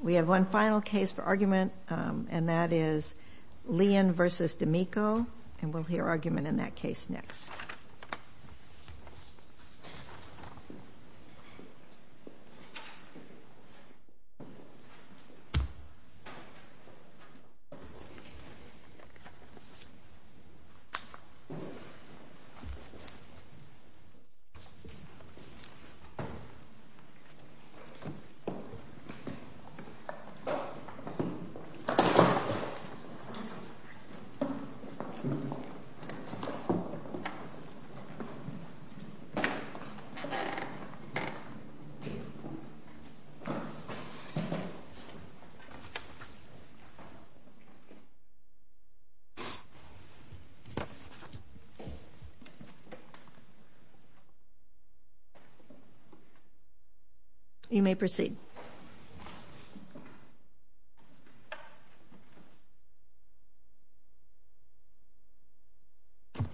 We have one final case for argument, and that is Lian v. D'Amico, and we'll hear argument in that case next. You may proceed. Thank you.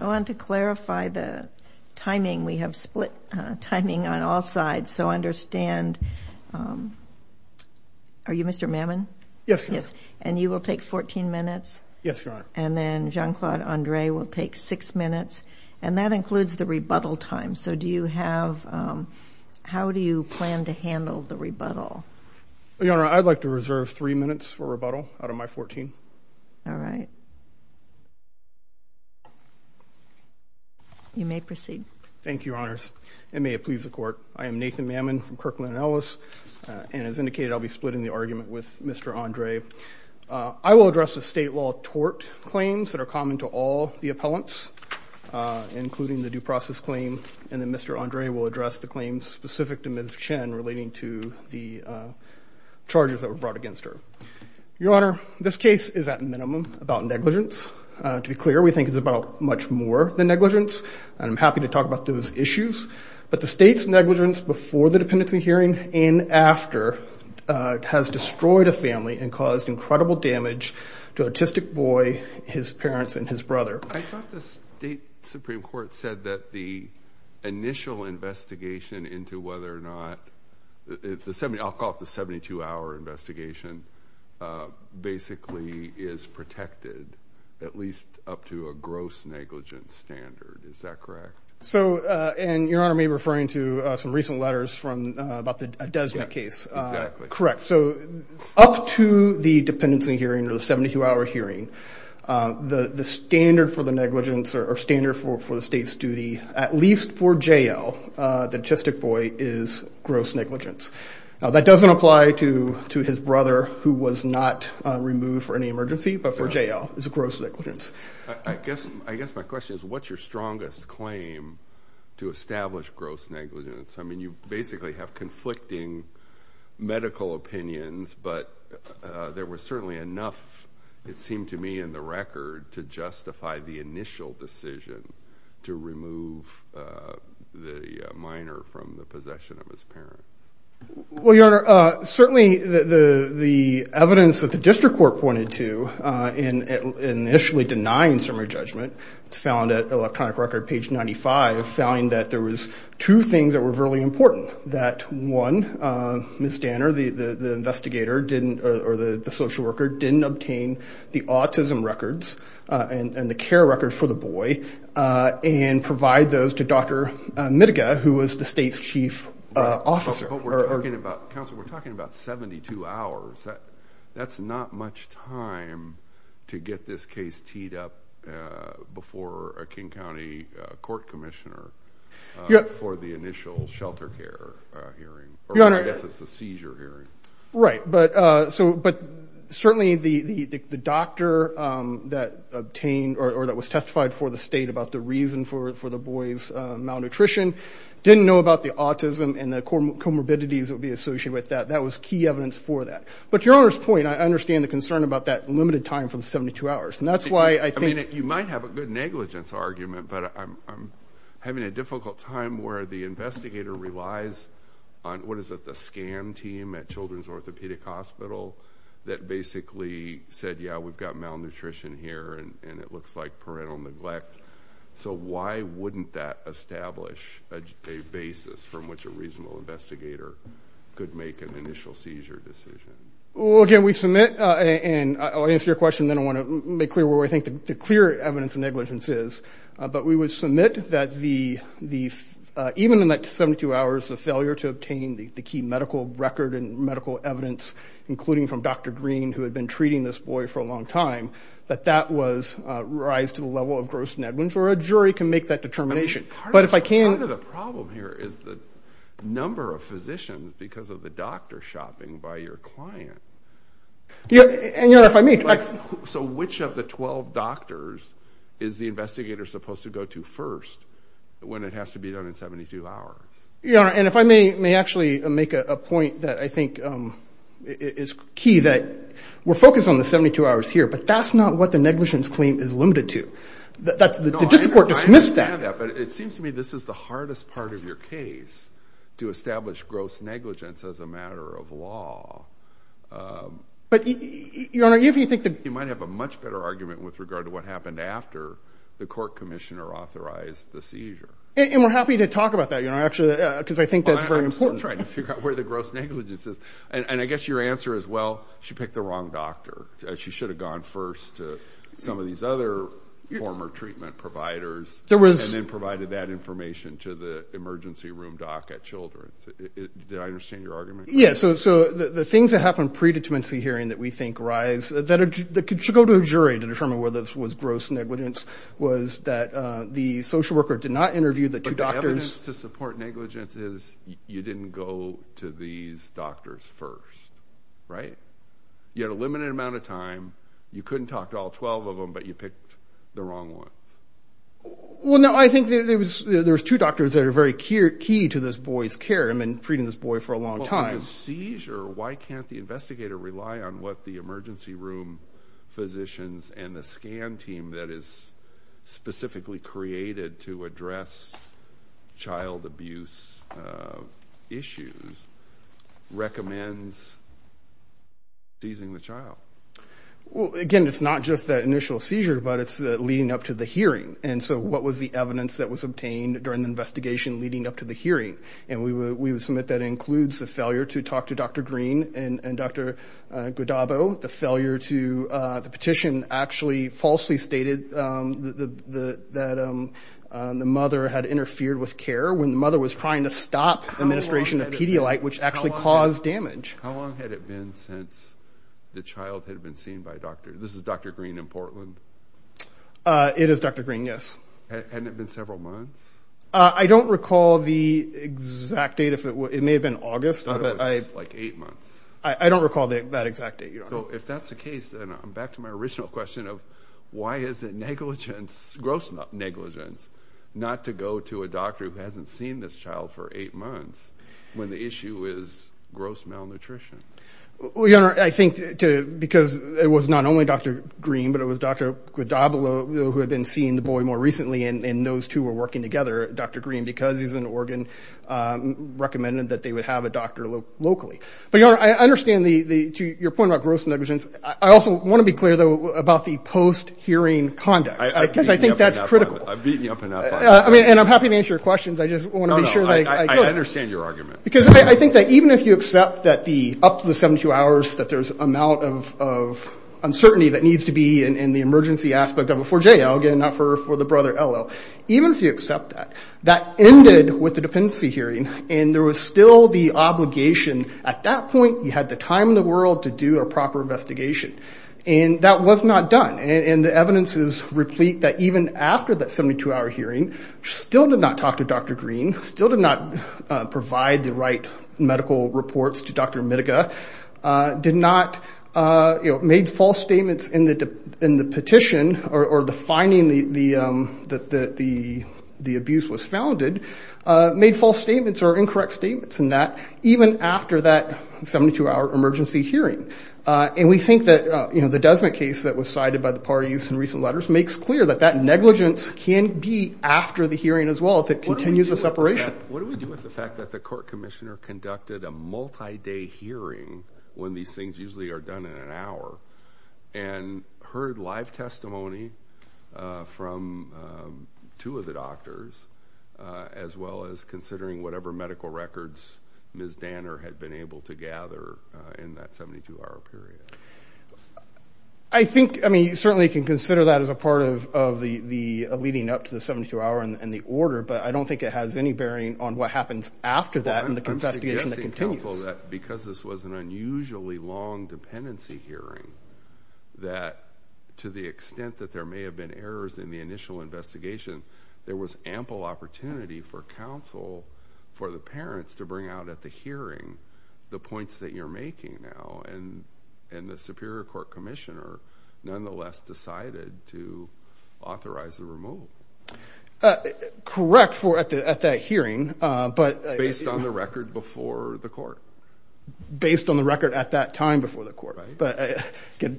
I want to clarify the timing. We have split timing on all sides, so understand. Are you Mr. Mammon? Yes, ma'am. And you will take 14 minutes? Yes, ma'am. And then Jean-Claude Andre will take six minutes. And that includes the rebuttal time. So do you have – how do you plan to handle the rebuttal? Your Honor, I'd like to reserve three minutes for rebuttal out of my 14. All right. You may proceed. Thank you, Your Honors, and may it please the Court. I am Nathan Mammon from Kirkland & Ellis, and as indicated, I'll be splitting the argument with Mr. Andre. I will address the state law tort claims that are common to all the appellants, including the due process claim, and then Mr. Andre will address the claims specific to Ms. Chen relating to the charges that were brought against her. Your Honor, this case is, at minimum, about negligence. To be clear, we think it's about much more than negligence, and I'm happy to talk about those issues. But the state's negligence before the dependency hearing and after has destroyed a family and caused incredible damage to an autistic boy, his parents, and his brother. I thought the state Supreme Court said that the initial investigation into whether or not – I'll call it the 72-hour investigation basically is protected, at least up to a gross negligence standard. Is that correct? So – and Your Honor may be referring to some recent letters from – about the Desmet case. Correct. So up to the dependency hearing or the 72-hour hearing, the standard for the negligence or standard for the state's duty, at least for J.L., the autistic boy, is gross negligence. Now that doesn't apply to his brother, who was not removed for any emergency, but for J.L., it's a gross negligence. I guess my question is, what's your strongest claim to establish gross negligence? I mean, you basically have conflicting medical opinions, but there was certainly enough, it seemed to me, in the record to justify the initial decision to remove the minor from the possession of his parents. Well, Your Honor, certainly the evidence that the district court pointed to in initially denying summary judgment, it's found at electronic record page 95, found that there was two things that were really important. That one, Ms. Danner, the investigator didn't – or the social worker didn't obtain the autism records and the care record for the boy and provide those to Dr. Midega, who was the state's chief officer. But we're talking about, Counselor, we're talking about 72 hours. That's not much time to get this case teed up before a King County court commissioner for the initial shelter care hearing. Or I guess it's the seizure hearing. Right. But certainly the doctor that obtained or that was testified for the state about the reason for the boy's malnutrition didn't know about the autism and the comorbidities that would be associated with that. That was key evidence for that. But Your Honor's point, I understand the concern about that limited time for the 72 hours. And that's why I think – I mean, you might have a good negligence argument, but I'm having a difficult time where the investigator relies on – what is it, the scam team at Children's Orthopedic Hospital that basically said, yeah, we've got malnutrition here and it looks like parental neglect. So why wouldn't that establish a basis from which a reasonable investigator could make an initial seizure decision? Well, again, we submit – and I'll answer your question, and then I want to make clear where I think the clear evidence of negligence is. But we would submit that the – even in that 72 hours, the failure to obtain the key medical record and medical evidence, including from Dr. Green, who had been treating this boy for a long time, that that was rise to the level of gross negligence, or a jury can make that determination. But if I can – I mean, part of the problem here is the number of physicians because of the doctor shopping by your client. And, Your Honor, if I may – So which of the 12 doctors is the investigator supposed to go to first when it has to be done in 72 hours? Your Honor, and if I may actually make a point that I think is key, that we're focused on the 72 hours here, but that's not what the negligence claim is limited to. The district court dismissed that. No, I understand that, but it seems to me this is the hardest part of your case, to establish gross negligence as a matter of law. But, Your Honor, if you think that – You might have a much better argument with regard to what happened after the court commissioner authorized the seizure. And we're happy to talk about that, Your Honor, actually, because I think that's very important. Well, I'm still trying to figure out where the gross negligence is. And I guess your answer is, well, she picked the wrong doctor. She should have gone first to some of these other former treatment providers. There was – And then provided that information to the emergency room doc at Children's. Did I understand your argument? Yeah. So the things that happened pre-determinancy hearing that we think rise, that should go to a jury to determine whether it was gross negligence, was that the social worker did not interview the two doctors. But the evidence to support negligence is you didn't go to these doctors first, right? You had a limited amount of time. You couldn't talk to all 12 of them, but you picked the wrong ones. Well, no, I think there was two doctors that are very key to this boy's care. I've been treating this boy for a long time. Well, in a seizure, why can't the investigator rely on what the emergency room physicians and the scan team that is specifically created to address child abuse issues recommends seizing the child? Well, again, it's not just that initial seizure, but it's leading up to the hearing. And so what was the evidence that was obtained during the investigation leading up to the hearing? And we would submit that includes the failure to talk to Dr. Green and Dr. Godabo. The petition actually falsely stated that the mother had interfered with care when the mother was trying to stop administration of Pedialyte, which actually caused damage. How long had it been since the child had been seen by doctors? This is Dr. Green in Portland? It is Dr. Green, yes. Hadn't it been several months? I don't recall the exact date. It may have been August. I thought it was like eight months. I don't recall that exact date. If that's the case, then I'm back to my original question of why is it negligence, gross negligence, not to go to a doctor who hasn't seen this child for eight months when the issue is gross malnutrition? Well, Your Honor, I think because it was not only Dr. Green, but it was Dr. Godabo who had been seeing the boy more recently, and those two were working together. Dr. Green, because he's an organ, recommended that they would have a doctor locally. But, Your Honor, I understand your point about gross negligence. I also want to be clear, though, about the post-hearing conduct because I think that's critical. I've beaten you up enough on this. And I'm happy to answer your questions. I just want to be sure that I get it. No, no, I understand your argument. Because I think that even if you accept that up to the 72 hours that there's an amount of uncertainty that needs to be in the emergency aspect of a 4JL, again, not for the brother, LL, even if you accept that, that ended with the dependency hearing, and there was still the obligation. At that point, you had the time in the world to do a proper investigation. And that was not done. And the evidence is replete that even after that 72-hour hearing, she still did not talk to Dr. Green, still did not provide the right medical reports to Dr. Mitica, did not, you know, made false statements in the petition or the finding that the abuse was founded, made false statements or incorrect statements in that even after that 72-hour emergency hearing. And we think that, you know, the Desmet case that was cited by the parties in recent letters just makes clear that that negligence can be after the hearing as well if it continues the separation. What do we do with the fact that the court commissioner conducted a multi-day hearing when these things usually are done in an hour and heard live testimony from two of the doctors, as well as considering whatever medical records Ms. Danner had been able to gather in that 72-hour period? I think, I mean, you certainly can consider that as a part of the leading up to the 72-hour and the order, but I don't think it has any bearing on what happens after that and the investigation that continues. I'm suggesting, counsel, that because this was an unusually long dependency hearing, that to the extent that there may have been errors in the initial investigation, there was ample opportunity for counsel, for the parents to bring out at the hearing the points that you're making now. And the superior court commissioner, nonetheless, decided to authorize the removal. Correct, at that hearing. Based on the record before the court. Based on the record at that time before the court. But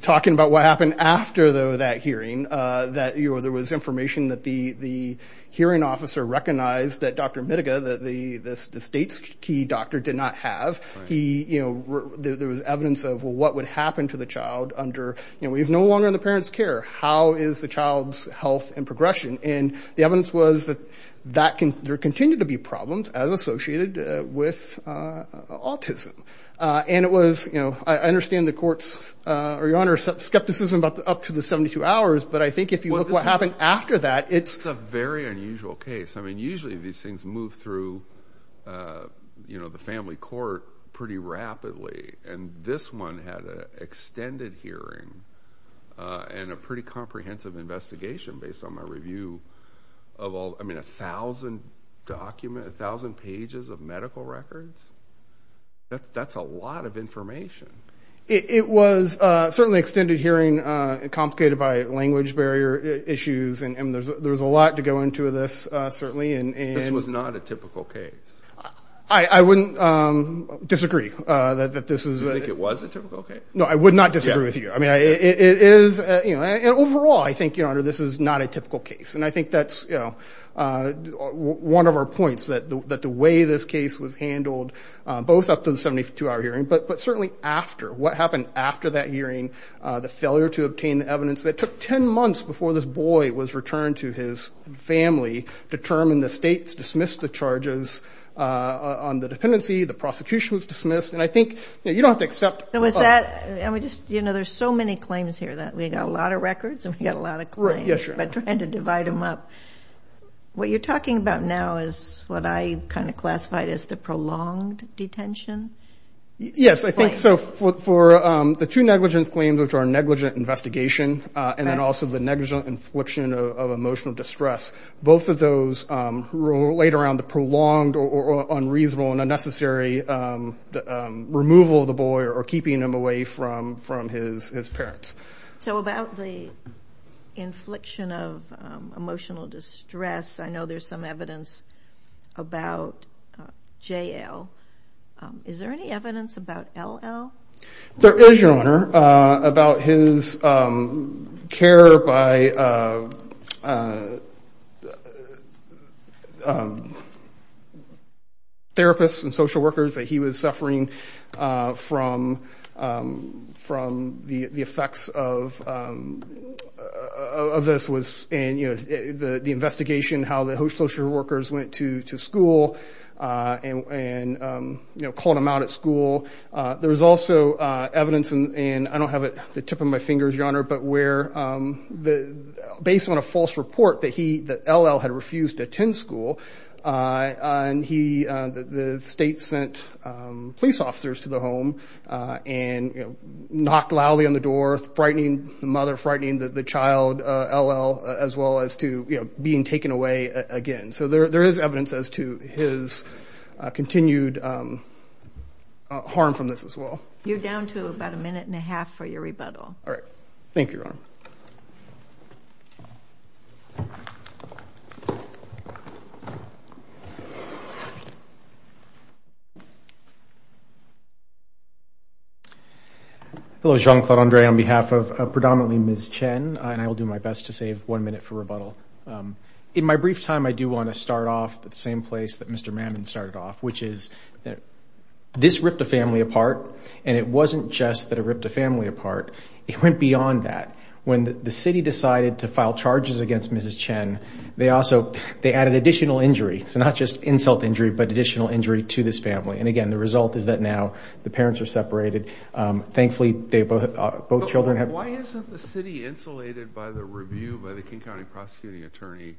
talking about what happened after that hearing, there was information that the hearing officer recognized that Dr. Midega, the state's key doctor, did not have. He, you know, there was evidence of what would happen to the child under, you know, he's no longer in the parent's care. How is the child's health and progression? And the evidence was that there continued to be problems as associated with autism. And it was, you know, I understand the court's, Your Honor, skepticism up to the 72 hours, but I think if you look what happened after that, it's a very unusual case. I mean, usually these things move through, you know, the family court pretty rapidly. And this one had an extended hearing and a pretty comprehensive investigation based on my review of all, I mean, 1,000 document, 1,000 pages of medical records? That's a lot of information. It was certainly extended hearing, complicated by language barrier issues, and there's a lot to go into this, certainly. This was not a typical case. I wouldn't disagree that this is. You think it was a typical case? No, I would not disagree with you. I mean, it is, you know, and overall, I think, Your Honor, this is not a typical case. And I think that's, you know, one of our points, that the way this case was handled both up to the 72-hour hearing, but certainly after, what happened after that hearing, the failure to obtain the evidence that took 10 months before this boy was returned to his family, determined the states dismissed the charges on the dependency, the prosecution was dismissed, and I think, you know, you don't have to accept. There was that, and we just, you know, there's so many claims here that we got a lot of records and we got a lot of claims. Yes, Your Honor. But trying to divide them up. What you're talking about now is what I kind of classified as the prolonged detention? Yes, I think so. For the two negligence claims, which are negligent investigation, and then also the negligent infliction of emotional distress, both of those relate around the prolonged or unreasonable and unnecessary removal of the boy or keeping him away from his parents. So about the infliction of emotional distress, I know there's some evidence about JL. Is there any evidence about LL? There is, Your Honor, about his care by therapists and social workers that he was suffering from. The effects of this was in the investigation how the social workers went to school and called him out at school. There was also evidence, and I don't have it at the tip of my fingers, Your Honor, but where based on a false report that LL had refused to attend school, the state sent police officers to the home and knocked loudly on the door, frightening the mother, frightening the child, LL, as well as to being taken away again. So there is evidence as to his continued harm from this as well. You're down to about a minute and a half for your rebuttal. All right. Thank you, Your Honor. Thank you. Hello, Jean-Claude Andre. On behalf of predominantly Ms. Chen, and I will do my best to save one minute for rebuttal, in my brief time I do want to start off at the same place that Mr. Mammon started off, which is this ripped a family apart, and it wasn't just that it ripped a family apart. It went beyond that. When the city decided to file charges against Mrs. Chen, they also added additional injury, so not just insult injury, but additional injury to this family. And, again, the result is that now the parents are separated. Thankfully, both children have- Why isn't the city insulated by the review by the King County prosecuting attorney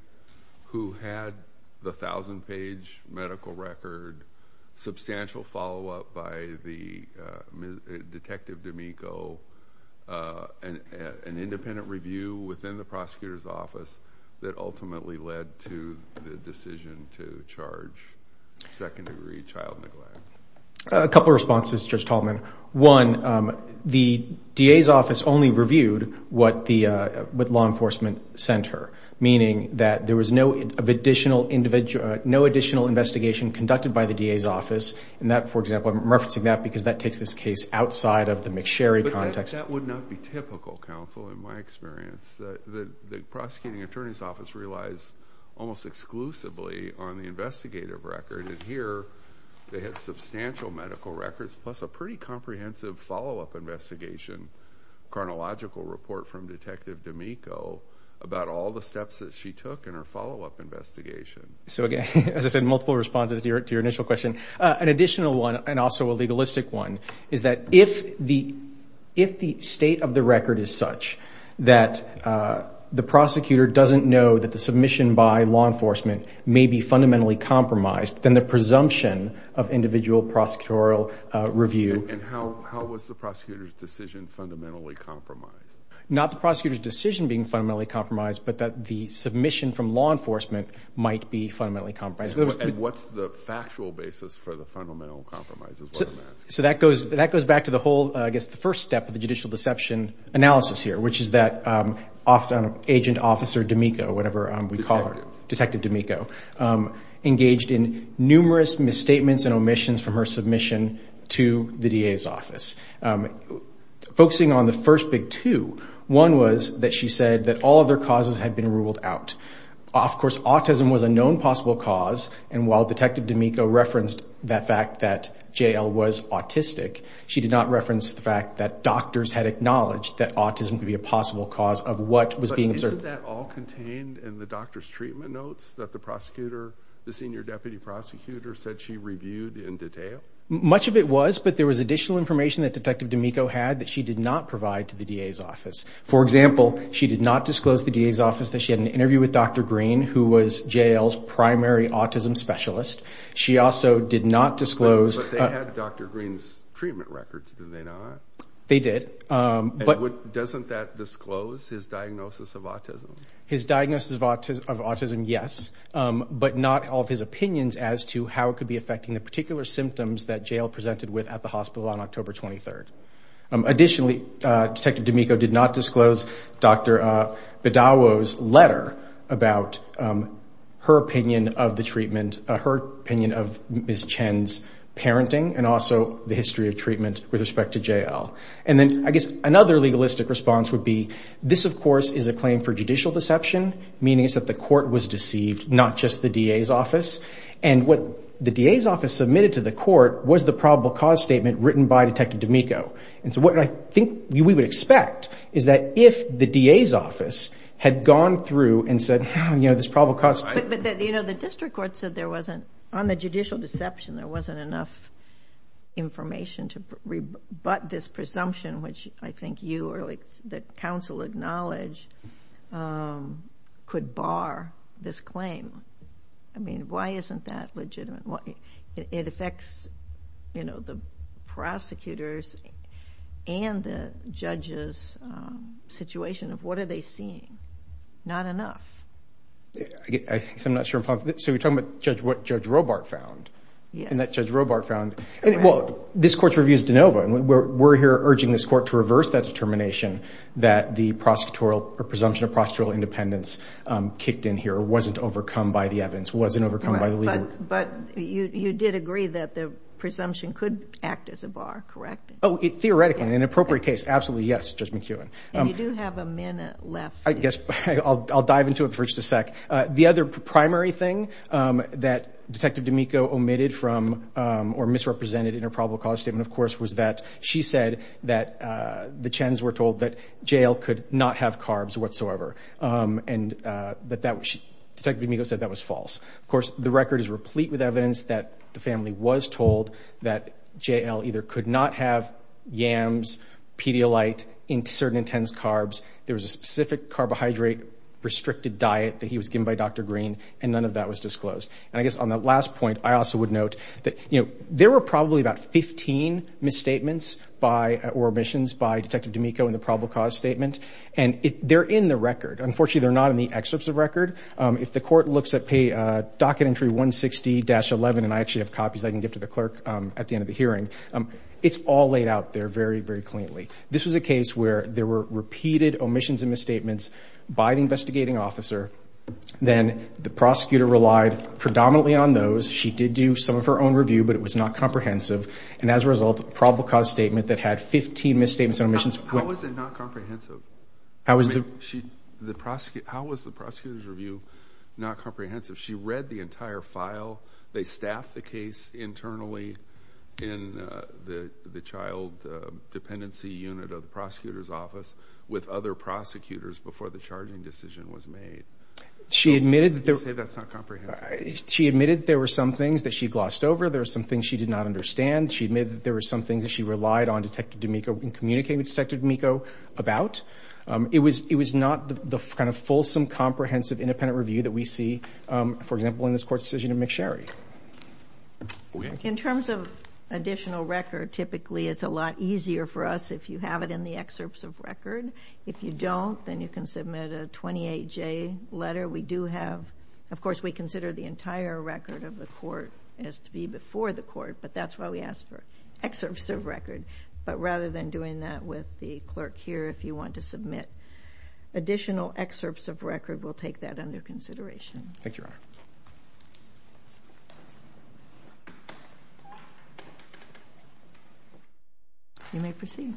who had the 1,000-page medical record, substantial follow-up by Detective D'Amico, an independent review within the prosecutor's office that ultimately led to the decision to charge second-degree child neglect? A couple of responses, Judge Tallman. One, the DA's office only reviewed what law enforcement sent her, meaning that there was no additional investigation conducted by the DA's office. For example, I'm referencing that because that takes this case outside of the McSherry context. But that would not be typical, counsel, in my experience. The prosecuting attorney's office relies almost exclusively on the investigative record, and here they had substantial medical records plus a pretty comprehensive follow-up investigation, a chronological report from Detective D'Amico about all the steps that she took in her follow-up investigation. So, again, as I said, multiple responses to your initial question. An additional one, and also a legalistic one, is that if the state of the record is such that the prosecutor doesn't know that the submission by law enforcement may be fundamentally compromised, then the presumption of individual prosecutorial review- And how was the prosecutor's decision fundamentally compromised? Not the prosecutor's decision being fundamentally compromised, but that the submission from law enforcement might be fundamentally compromised. What's the factual basis for the fundamental compromise? So that goes back to the whole, I guess, the first step of the judicial deception analysis here, which is that Agent Officer D'Amico, whatever we call her, Detective D'Amico, engaged in numerous misstatements and omissions from her submission to the DA's office. Focusing on the first big two, one was that she said that all other causes had been ruled out. Of course, autism was a known possible cause, and while Detective D'Amico referenced that fact that J.L. was autistic, she did not reference the fact that doctors had acknowledged that autism could be a possible cause of what was being observed. Wasn't that all contained in the doctor's treatment notes that the prosecutor, the senior deputy prosecutor said she reviewed in detail? Much of it was, but there was additional information that Detective D'Amico had that she did not provide to the DA's office. For example, she did not disclose to the DA's office that she had an interview with Dr. Green, who was J.L.'s primary autism specialist. She also did not disclose- But they had Dr. Green's treatment records, did they not? They did. Doesn't that disclose his diagnosis of autism? His diagnosis of autism, yes, but not all of his opinions as to how it could be affecting the particular symptoms that J.L. presented with at the hospital on October 23rd. Additionally, Detective D'Amico did not disclose Dr. Badawo's letter about her opinion of the treatment, her opinion of Ms. Chen's parenting, and also the history of treatment with respect to J.L. I guess another legalistic response would be, this, of course, is a claim for judicial deception, meaning it's that the court was deceived, not just the DA's office. What the DA's office submitted to the court was the probable cause statement written by Detective D'Amico. What I think we would expect is that if the DA's office had gone through and said, this probable cause- But the district court said there wasn't, on the judicial deception, there wasn't enough information to rebut this presumption, which I think you or the counsel acknowledge could bar this claim. Why isn't that legitimate? It affects the prosecutors and the judges' situation of what are they seeing. Not enough. I guess I'm not sure. So you're talking about what Judge Robart found? Yes. And that Judge Robart found, well, this court's review is de novo, and we're here urging this court to reverse that determination that the presumption of prosecutorial independence kicked in here, wasn't overcome by the evidence, wasn't overcome by the legal- But you did agree that the presumption could act as a bar, correct? Oh, theoretically, in an appropriate case, absolutely, yes, Judge McKeown. And you do have a minute left. I guess I'll dive into it for just a sec. The other primary thing that Detective D'Amico omitted from or misrepresented in her probable cause statement, of course, was that she said that the Chens were told that J.L. could not have carbs whatsoever, and Detective D'Amico said that was false. Of course, the record is replete with evidence that the family was told that J.L. either could not have yams, Pedialyte, certain intense carbs. There was a specific carbohydrate-restricted diet that he was given by Dr. Green, and none of that was disclosed. And I guess on that last point, I also would note that there were probably about 15 misstatements or omissions by Detective D'Amico in the probable cause statement, and they're in the record. Unfortunately, they're not in the excerpts of the record. If the court looks at docket entry 160-11, and I actually have copies I can give to the clerk at the end of the hearing, it's all laid out there very, very cleanly. This was a case where there were repeated omissions and misstatements by the investigating officer. Then the prosecutor relied predominantly on those. She did do some of her own review, but it was not comprehensive. And as a result, the probable cause statement that had 15 misstatements and omissions. How was it not comprehensive? How was the prosecutor's review not comprehensive? She read the entire file. They staffed the case internally in the child dependency unit of the prosecutor's office with other prosecutors before the charging decision was made. You say that's not comprehensive. She admitted there were some things that she glossed over. There were some things she did not understand. She admitted that there were some things that she relied on Detective D'Amico in communicating with Detective D'Amico about. It was not the kind of fulsome, comprehensive, independent review that we see, for example, in this court's decision of McSherry. In terms of additional record, typically it's a lot easier for us if you have it in the excerpts of record. If you don't, then you can submit a 28-J letter. Of course, we consider the entire record of the court as to be before the court, but that's why we ask for excerpts of record. But rather than doing that with the clerk here, if you want to submit additional excerpts of record, we'll take that under consideration. Thank you, Your Honor. You may proceed.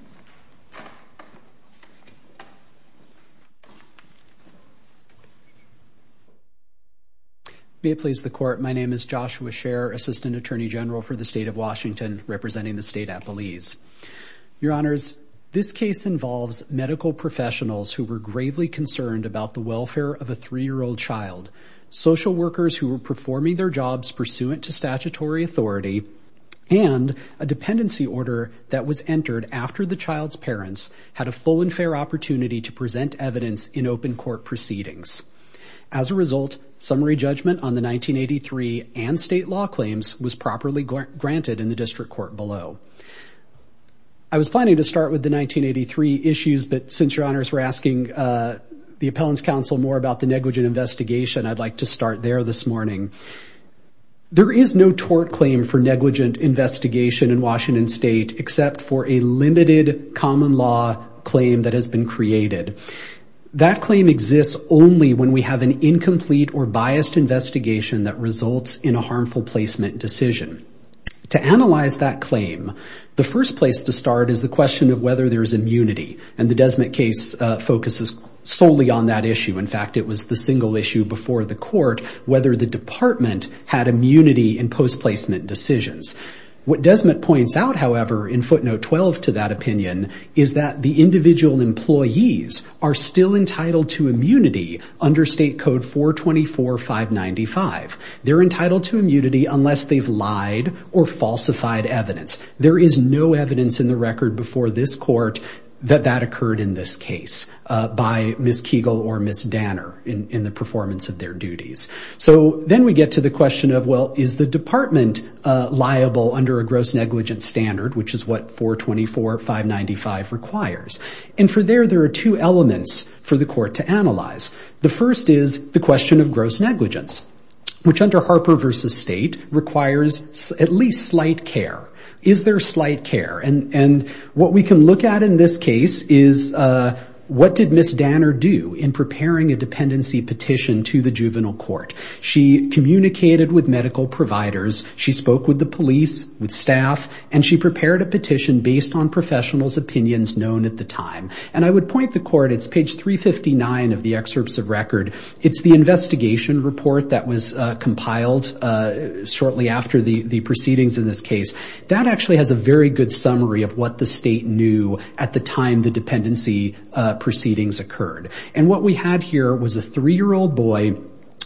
May it please the Court, my name is Joshua Scher, Assistant Attorney General for the State of Washington, representing the State Appellees. Your Honors, this case involves medical professionals who were gravely concerned about the welfare of a three-year-old child, social workers who were performing their jobs pursuant to statutory authority, and a dependency order that was entered after the child's parents had a full and fair opportunity to present evidence in open court proceedings. As a result, summary judgment on the 1983 and state law claims was properly granted in the district court below. I was planning to start with the 1983 issues, but since Your Honors were asking the Appellants' Counsel more about the negligent investigation, I'd like to start there this morning. There is no tort claim for negligent investigation in Washington State, except for a limited common law claim that has been created. That claim exists only when we have an incomplete or biased investigation that results in a harmful placement decision. To analyze that claim, the first place to start is the question of whether there is immunity, and the Desmott case focuses solely on that issue. In fact, it was the single issue before the court, whether the department had immunity in post-placement decisions. What Desmott points out, however, in footnote 12 to that opinion, is that the individual employees are still entitled to immunity under State Code 424-595. They're entitled to immunity unless they've lied or falsified evidence. There is no evidence in the record before this court that that occurred in this case by Ms. Kegel or Ms. Danner in the performance of their duties. Then we get to the question of, well, is the department liable under a gross negligent standard, which is what 424-595 requires? For there, there are two elements for the court to analyze. The first is the question of gross negligence, which under Harper v. State requires at least slight care. Is there slight care? What we can look at in this case is what did Ms. Danner do in preparing a dependency petition to the juvenile court? She communicated with medical providers. She spoke with the police, with staff, and she prepared a petition based on professionals' opinions known at the time. And I would point the court, it's page 359 of the excerpts of record. It's the investigation report that was compiled shortly after the proceedings in this case. That actually has a very good summary of what the state knew at the time the dependency proceedings occurred. And what we had here was a 3-year-old boy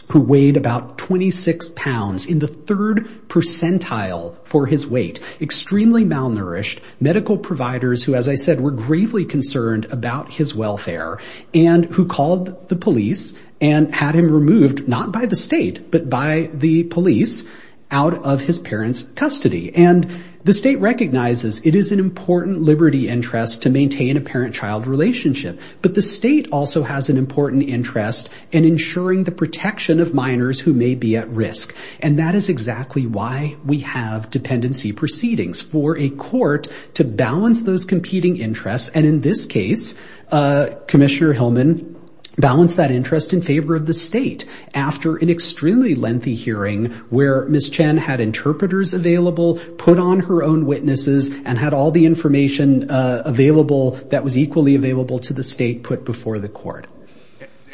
who weighed about 26 pounds in the third percentile for his weight, extremely malnourished. Medical providers who, as I said, were gravely concerned about his welfare and who called the police and had him removed not by the state but by the police out of his parents' custody. And the state recognizes it is an important liberty interest to maintain a parent-child relationship. But the state also has an important interest in ensuring the protection of minors who may be at risk. And that is exactly why we have dependency proceedings, for a court to balance those competing interests. And in this case, Commissioner Hillman balanced that interest in favor of the state after an extremely lengthy hearing where Ms. Chen had interpreters available, put on her own witnesses, and had all the information available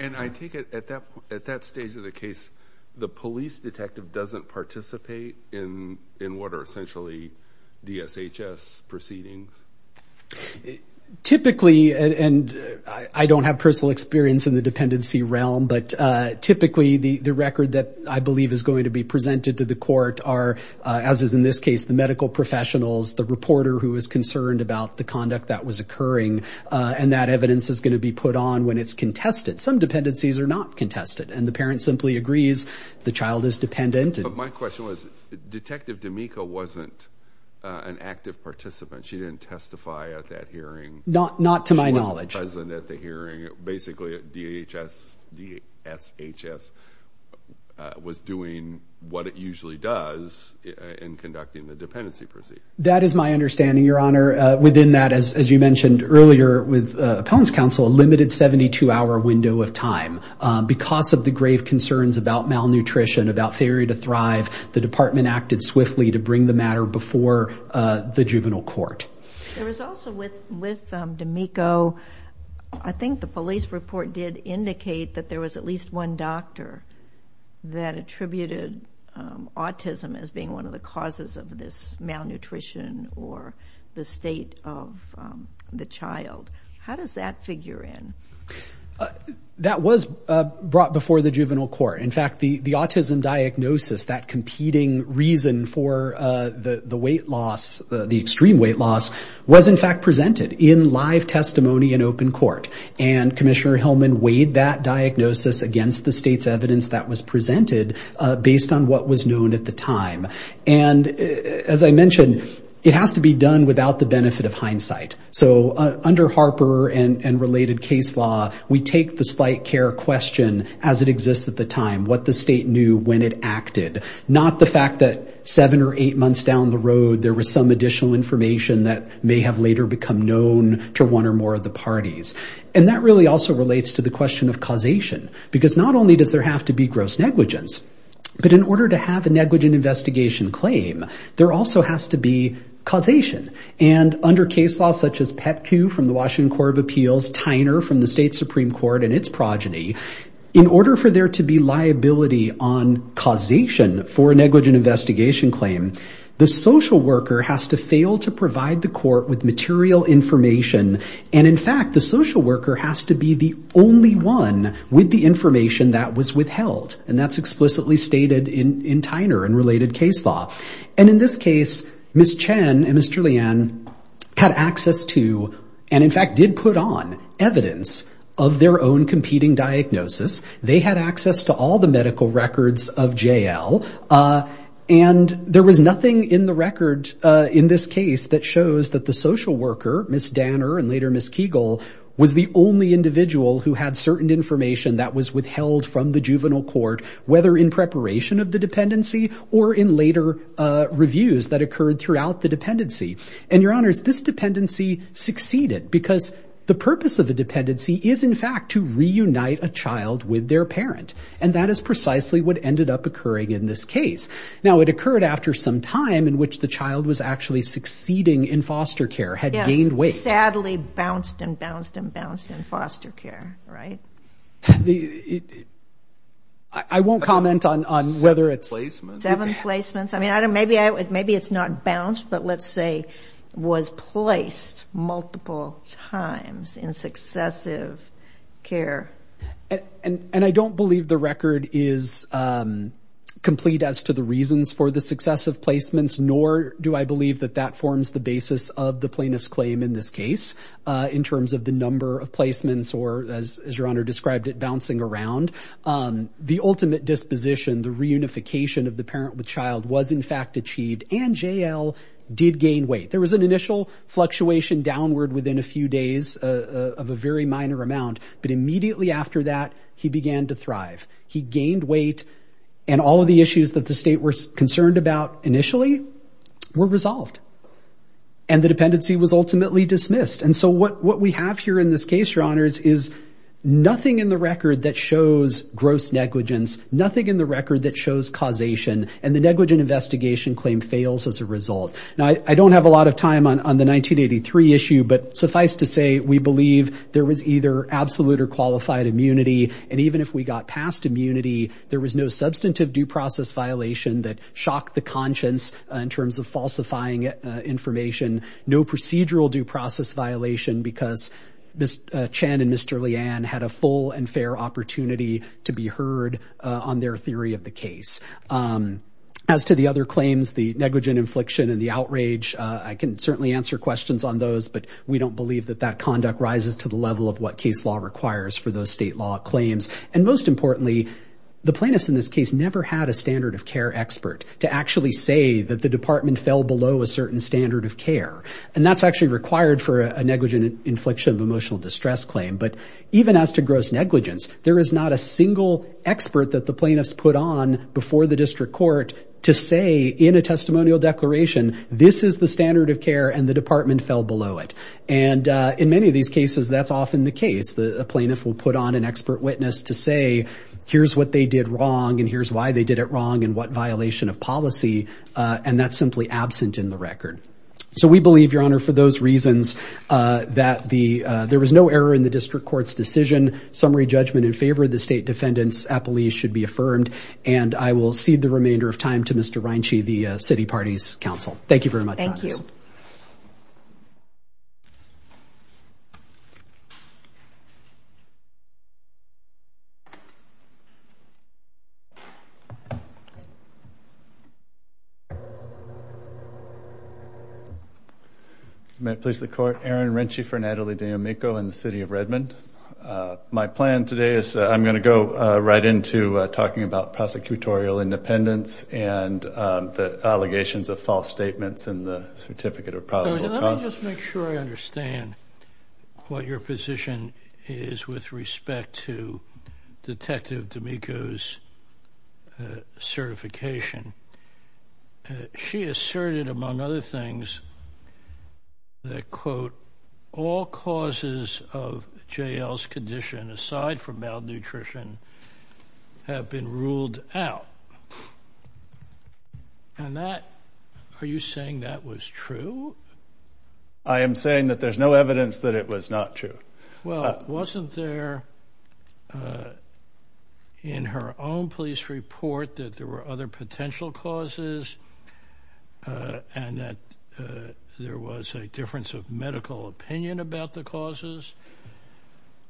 And I take it at that stage of the case, the police detective doesn't participate in what are essentially DSHS proceedings? Typically, and I don't have personal experience in the dependency realm, but typically the record that I believe is going to be presented to the court are, as is in this case, the medical professionals, the reporter who is concerned about the conduct that was occurring, and that evidence is going to be put on when it's contested. Some dependencies are not contested. And the parent simply agrees the child is dependent. But my question was, Detective D'Amico wasn't an active participant. She didn't testify at that hearing. Not to my knowledge. She wasn't present at the hearing. Basically, DSHS was doing what it usually does in conducting the dependency proceedings. That is my understanding, Your Honor. Within that, as you mentioned earlier with appellant's counsel, a limited 72-hour window of time. Because of the grave concerns about malnutrition, about failure to thrive, the department acted swiftly to bring the matter before the juvenile court. There was also with D'Amico, I think the police report did indicate that there was at least one doctor that attributed autism as being one of the reasons for the state of the child. How does that figure in? That was brought before the juvenile court. In fact, the autism diagnosis, that competing reason for the weight loss, the extreme weight loss, was in fact presented in live testimony in open court. And Commissioner Hillman weighed that diagnosis against the state's evidence that was presented based on what was known at the time. And as I mentioned, it has to be done without the benefit of hindsight. So under Harper and related case law, we take the slight care question as it exists at the time, what the state knew when it acted. Not the fact that seven or eight months down the road there was some additional information that may have later become known to one or more of the parties. And that really also relates to the question of causation. Because not only does there have to be gross negligence, but in order to have a negligent investigation claim, there also has to be causation. And under case law such as PEPQ from the Washington Court of Appeals, Tyner from the state Supreme Court and its progeny, in order for there to be liability on causation for a negligent investigation claim, the social worker has to fail to provide the court with material information. And in fact, the social worker has to be the only one with the information that was withheld. And that's explicitly stated in Tyner and related case law. And in this case, Ms. Chen and Mr. Lian had access to, and in fact did put on, evidence of their own competing diagnosis. They had access to all the medical records of JL. And there was nothing in the record in this case that shows that the social worker, Ms. Danner and later Ms. Kegel, was the only individual who had certain information that was withheld from the juvenile court, whether in preparation of the dependency or in later reviews that occurred throughout the dependency. And, Your Honors, this dependency succeeded because the purpose of a dependency is, in fact, to reunite a child with their parent. And that is precisely what ended up occurring in this case. Now, it occurred after some time in which the child was actually succeeding in foster care, had gained weight. It sadly bounced and bounced and bounced in foster care, right? I won't comment on whether it's... Seven placements. Seven placements. I mean, maybe it's not bounced, but let's say was placed multiple times in successive care. And I don't believe the record is complete as to the reasons for the successive placements, nor do I believe that that forms the basis of the case in terms of the number of placements or, as Your Honor described it, bouncing around. The ultimate disposition, the reunification of the parent with child, was, in fact, achieved, and J.L. did gain weight. There was an initial fluctuation downward within a few days of a very minor amount, but immediately after that, he began to thrive. He gained weight, and all of the issues that the state was concerned about initially were resolved. And the dependency was ultimately dismissed. And so what we have here in this case, Your Honors, is nothing in the record that shows gross negligence, nothing in the record that shows causation, and the negligent investigation claim fails as a result. Now, I don't have a lot of time on the 1983 issue, but suffice to say, we believe there was either absolute or qualified immunity, and even if we got past immunity, there was no substantive due process violation that shocked the conscience in terms of falsifying information, no procedural due process violation because Ms. Chen and Mr. Leanne had a full and fair opportunity to be heard on their theory of the case. As to the other claims, the negligent infliction and the outrage, I can certainly answer questions on those, but we don't believe that that conduct rises to the level of what case law requires for those state law claims. And most importantly, the plaintiffs in this case never had a standard of care expert to actually say that the department fell below a certain standard of care. And that's actually required for a negligent infliction of emotional distress claim. But even as to gross negligence, there is not a single expert that the plaintiffs put on before the district court to say in a testimonial declaration, this is the standard of care and the department fell below it. And in many of these cases, that's often the case. The plaintiff will put on an expert witness to say, here's what they did wrong and here's why they did it wrong and what violation of policy. And that's simply absent in the record. So we believe, Your Honor, for those reasons, that there was no error in the district court's decision. Summary judgment in favor of the state defendants, appellees should be affirmed. And I will cede the remainder of time to Mr. Reinsche, the city party's counsel. Thank you very much. Thank you. Thank you. May it please the court. Aaron Reinsche for Natalie D'Amico in the city of Redmond. My plan today is I'm going to go right into talking about prosecutorial independence and the allegations of false statements in the certificate of probable cause. Let's make sure I understand what your position is with respect to Detective D'Amico's certification. She asserted, among other things, that, quote, all causes of JL's condition, aside from malnutrition, have been ruled out. And that, are you saying that was true? I am saying that there's no evidence that it was not true. Well, wasn't there, in her own police report, that there were other potential causes and that there was a difference of medical opinion about the causes?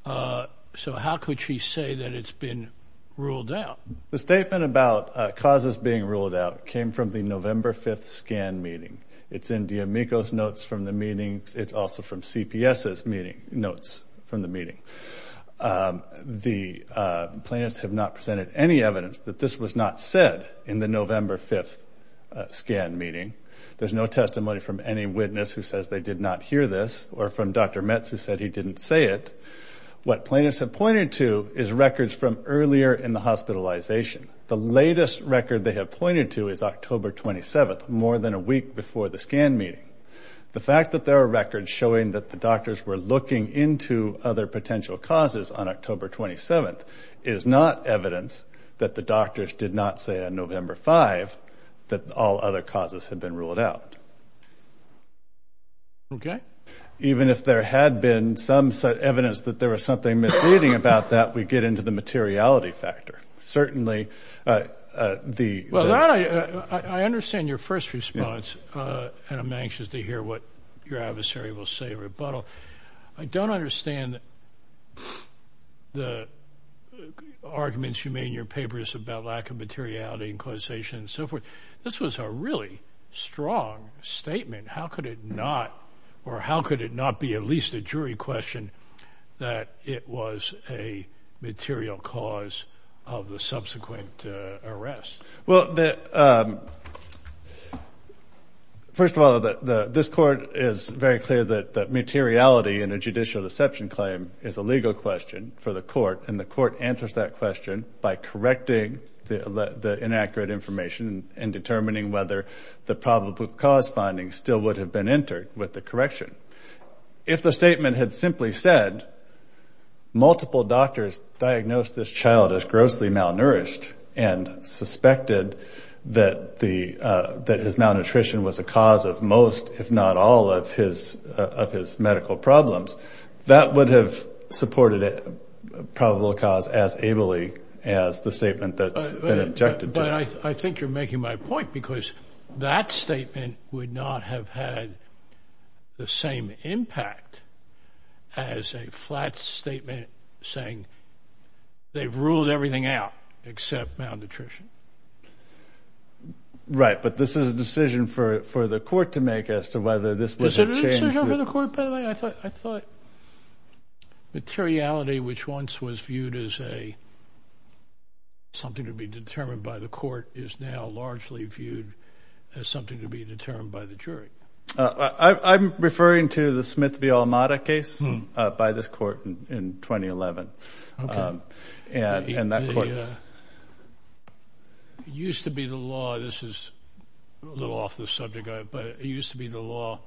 So how could she say that it's been ruled out? The statement about causes being ruled out came from the November 5th scan meeting. It's in D'Amico's notes from the meeting. It's also from CPS's notes from the meeting. The plaintiffs have not presented any evidence that this was not said in the November 5th scan meeting. There's no testimony from any witness who says they did not hear this or from Dr. Metz who said he didn't say it. What plaintiffs have pointed to is records from earlier in the hospitalization. The latest record they have pointed to is October 27th, more than a week before the scan meeting. The fact that there are records showing that the doctors were looking into other potential causes on October 27th is not evidence that the doctors did not say on November 5th that all other causes had been ruled out. Okay. Even if there had been some evidence that there was something misleading about that, we get into the materiality factor. Certainly, the- Well, I understand your first response, and I'm anxious to hear what your adversary will say or rebuttal. I don't understand the arguments you made in your papers about lack of materiality and causation and so forth. This was a really strong statement. How could it not or how could it not be at least a jury question that it was a material cause of the subsequent arrest? Well, first of all, this court is very clear that materiality in a judicial deception claim is a legal question for the court, and the court answers that question by correcting the inaccurate information and determining whether the probable cause finding still would have been entered with the correction. If the statement had simply said multiple doctors diagnosed this child as grossly malnourished and suspected that his malnutrition was a cause of most, if not all, of his medical problems, that would have supported a probable cause as ably as the statement that's But I think you're making my point because that statement would not have had the same impact as a flat statement saying they've ruled everything out except malnutrition. Right, but this is a decision for the court to make as to whether this was a Is it a decision for the court, by the way? I thought materiality, which once was viewed as something to be determined by the court, is now largely viewed as something to be determined by the jury. I'm referring to the Smith v. Almoda case by this court in 2011, and that court's It used to be the law, this is a little off the subject, but it used to be the law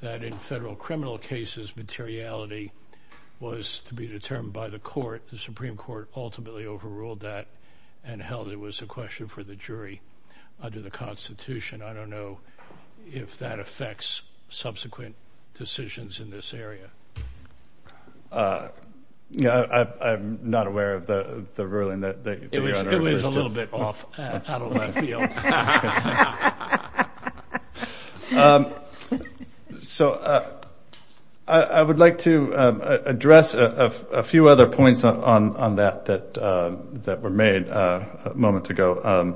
that in federal criminal cases, materiality was to be determined by the court. The Supreme Court ultimately overruled that and held it was a question for the jury under the Constitution. I don't know if that affects subsequent decisions in this area. I'm not aware of the ruling that It was a little bit off. How do I feel? I would like to address a few other points on that that were made a moment ago.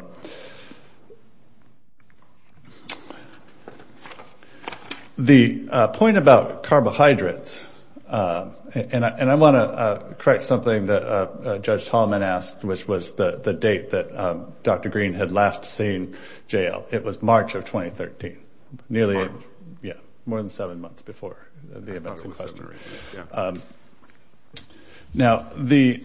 The point about carbohydrates, and I want to correct something that Judge Tallman asked, which was the date that Dr. Green had last seen J.L. It was March of 2013, more than seven months before the events in question. Now, the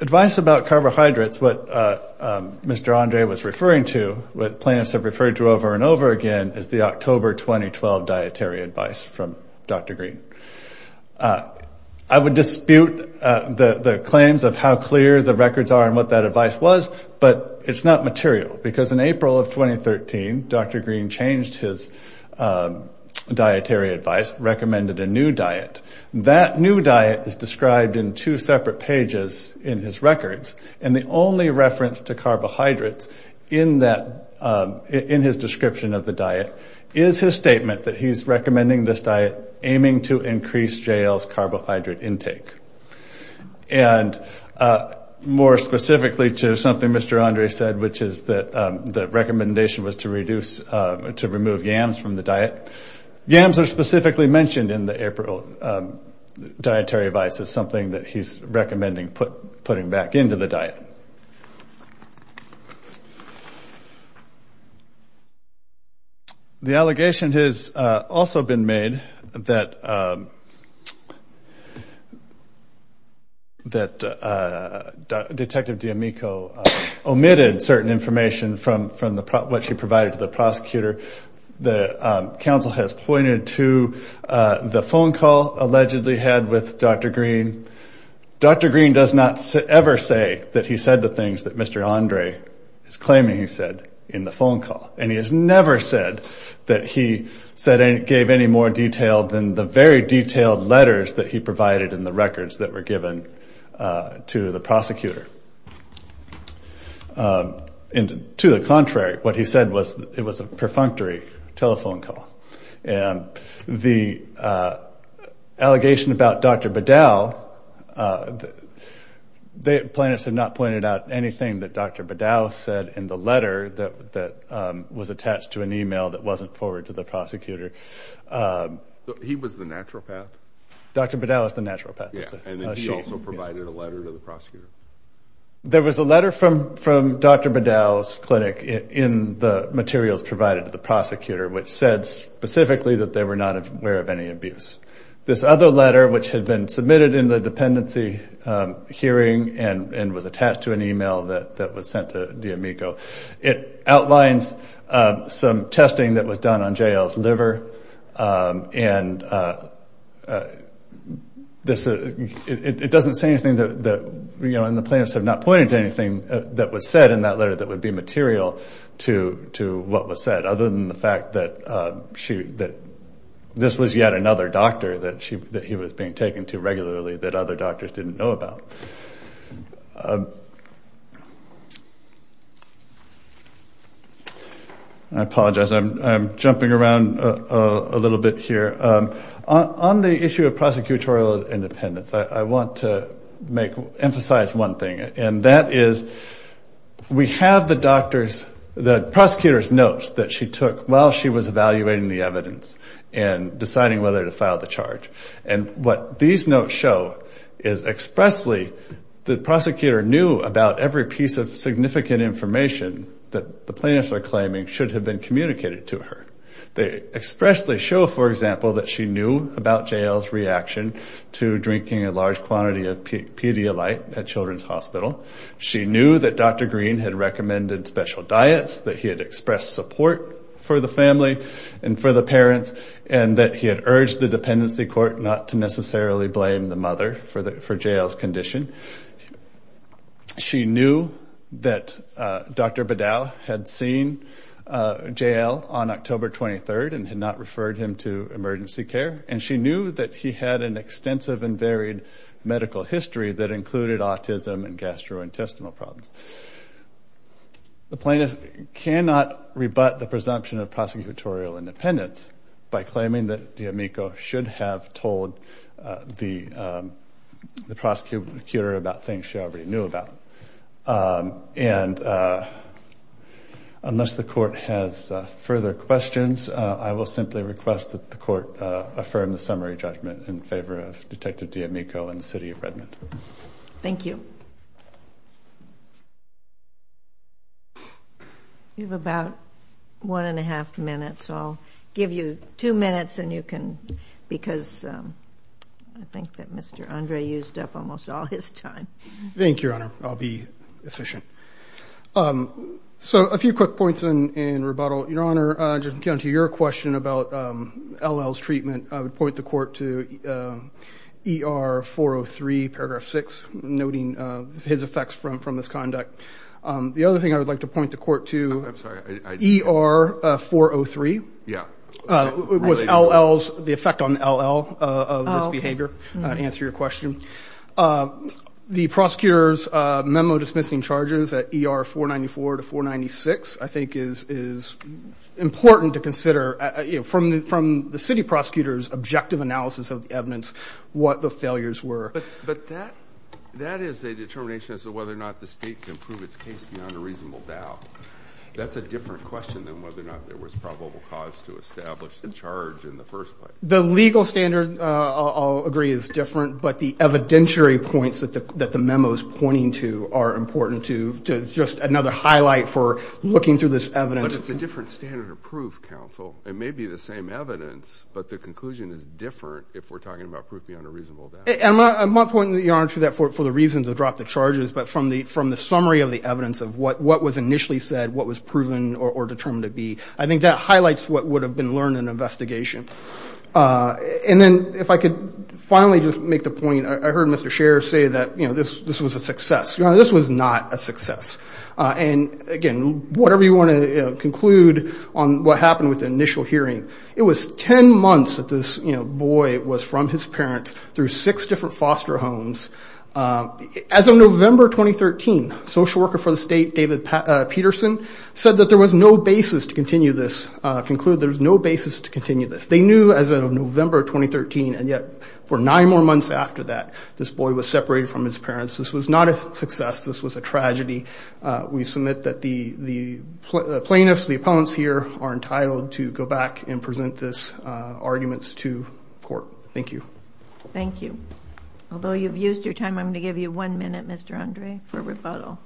advice about carbohydrates, what Mr. Andre was referring to, what plaintiffs have referred to over and over again, is the October 2012 dietary advice from Dr. Green. I would dispute the claims of how clear the records are and what that advice was, but it's not material, because in April of 2013, Dr. Green changed his dietary advice, recommended a new diet. That new diet is described in two separate pages in his records, and the only reference to carbohydrates in his description of the diet is his to increase J.L.'s carbohydrate intake. More specifically to something Mr. Andre said, which is that the recommendation was to remove yams from the diet. Yams are specifically mentioned in the April dietary advice as something that he's recommending putting back into the diet. The allegation has also been made that Detective D'Amico omitted certain information from what she provided to the prosecutor. The counsel has pointed to the phone call allegedly had with Dr. Green. Dr. Green does not ever say that he said the things that Mr. Andre is claiming he said in the phone call, and he has never said that he gave any more detail than the very detailed letters that he provided in the records that were given to the prosecutor. To the contrary, what he said was that it was a perfunctory telephone call. The allegation about Dr. Beddow, plaintiffs have not pointed out anything that Dr. Beddow said in the letter that was attached to an email that wasn't forwarded to the prosecutor. He was the naturopath? Dr. Beddow is the naturopath. And then he also provided a letter to the prosecutor? There was a letter from Dr. Beddow's clinic in the materials provided to the prosecutor which said specifically that they were not aware of any abuse. This other letter, which had been submitted in the dependency hearing and was attached to an email that was sent to D'Amico, it outlines some testing that was done on J.L.'s liver, and it doesn't say anything, and the plaintiffs have not pointed to anything that was said in that letter that would be material to what was said, other than the fact that this was yet another doctor that he was being taken to regularly that other doctors didn't know about. I apologize. I'm jumping around a little bit here. On the issue of prosecutorial independence, I want to emphasize one thing, and that is we have the prosecutor's notes that she took while she was evaluating the evidence and deciding whether to file the charge, and what these notes show is expressly the prosecutor knew about every piece of significant information that the plaintiffs are claiming should have been communicated to her. They expressly show, for example, that she knew about J.L.'s reaction to drinking a large quantity of Pedialyte at Children's Hospital. She knew that Dr. Green had recommended special diets, that he had expressed support for the family and for the parents, and that he had urged the dependency court not to necessarily blame the mother for J.L.'s condition. She knew that Dr. Beddow had seen J.L. on October 23rd and had not referred him to emergency care, and she knew that he had an extensive and varied medical history that included autism and gastrointestinal problems. The plaintiff cannot rebut the presumption of prosecutorial independence by claiming that D'Amico should have told the prosecutor about things she already knew about. And unless the court has further questions, I will simply request that the court affirm the summary judgment in favor of Detective D'Amico and the city of Redmond. Thank you. You have about one and a half minutes, so I'll give you two minutes, and you can, because I think that Mr. Andre used up almost all his time. Thank you, Your Honor. I'll be efficient. So a few quick points in rebuttal. Your Honor, just to counter your question about L.L.'s treatment, I would point the court to ER 403, paragraph 6, noting his effects from this conduct. The other thing I would like to point the court to, ER 403, was L.L.'s, the effect on L.L. of this behavior, to answer your question. The prosecutor's memo dismissing charges at ER 494 to 496 I think is important to consider, from the city prosecutor's objective analysis of the evidence, what the failures were. But that is a determination as to whether or not the state can prove its case beyond a reasonable doubt. That's a different question than whether or not there was probable cause to establish the charge in the first place. The legal standard, I'll agree, is different, but the evidentiary points that the memo is pointing to are important to just another highlight for looking through this evidence. But it's a different standard of proof, counsel. It may be the same evidence, but the conclusion is different if we're talking about proof beyond a reasonable doubt. I'm not pointing the arm to that for the reason to drop the charges, but from the summary of the evidence of what was initially said, what was proven or determined to be, I think that highlights what would have been learned in an investigation. And then if I could finally just make the point, I heard Mr. Scher say that this was a success. This was not a success. And, again, whatever you want to conclude on what happened with the initial hearing, it was ten months that this boy was from his parents through six different foster homes. As of November 2013, social worker for the state, David Peterson, said that there was no basis to continue this, conclude there was no basis to continue this. They knew as of November 2013, and yet for nine more months after that, this boy was separated from his parents. This was not a success. This was a tragedy. We submit that the plaintiffs, the appellants here, are entitled to go back and present this argument to court. Thank you. Thank you. Although you've used your time, I'm going to give you one minute, Mr. Andre, for rebuttal.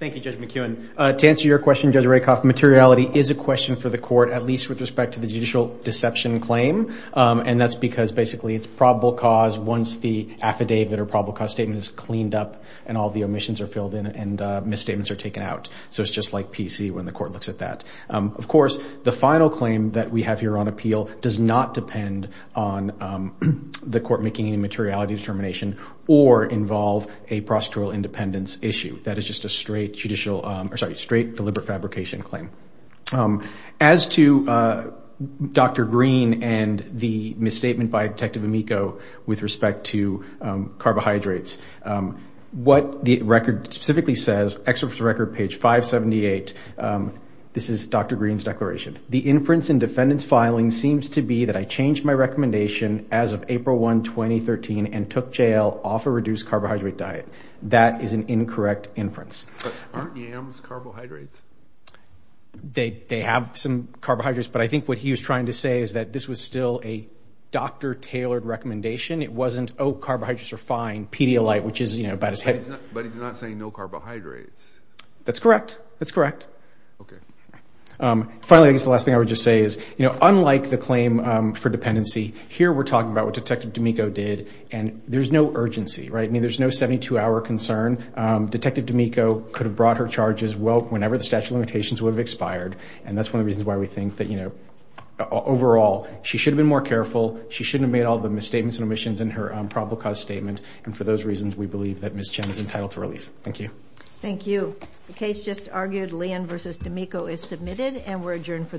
Thank you, Judge McKeown. To answer your question, Judge Rakoff, materiality is a question for the court, at least with respect to the judicial deception claim, and that's because basically it's probable cause once the affidavit or probable cause statement is cleaned up and all the omissions are filled in and misstatements are taken out. So it's just like PC when the court looks at that. Of course, the final claim that we have here on appeal does not depend on the court making any materiality determination or involve a prosecutorial independence issue. That is just a straight deliberate fabrication claim. As to Dr. Green and the misstatement by Detective Amico with respect to carbohydrates, what the record specifically says, excerpt from record page 578, this is Dr. Green's declaration. The inference in defendant's filing seems to be that I changed my recommendation as of April 1, 2013, and took JL off a reduced carbohydrate diet. That is an incorrect inference. Aren't yams carbohydrates? They have some carbohydrates, but I think what he was trying to say is that this was still a doctor-tailored recommendation. It wasn't, oh, carbohydrates are fine, Pedialyte, which is about as heavy. But he's not saying no carbohydrates. That's correct. That's correct. Okay. Finally, I guess the last thing I would just say is, unlike the claim for dependency, here we're talking about what Detective D'Amico did, and there's no urgency. There's no 72-hour concern. Detective D'Amico could have brought her charges whenever the statute of limitations would have expired, and that's one of the reasons why we think that overall she should have been more careful. She shouldn't have made all the misstatements and omissions in her probable cause statement, and for those reasons we believe that Ms. Chen is entitled to relief. Thank you. Thank you. The case just argued. Leon v. D'Amico is submitted, and we're adjourned for the morning.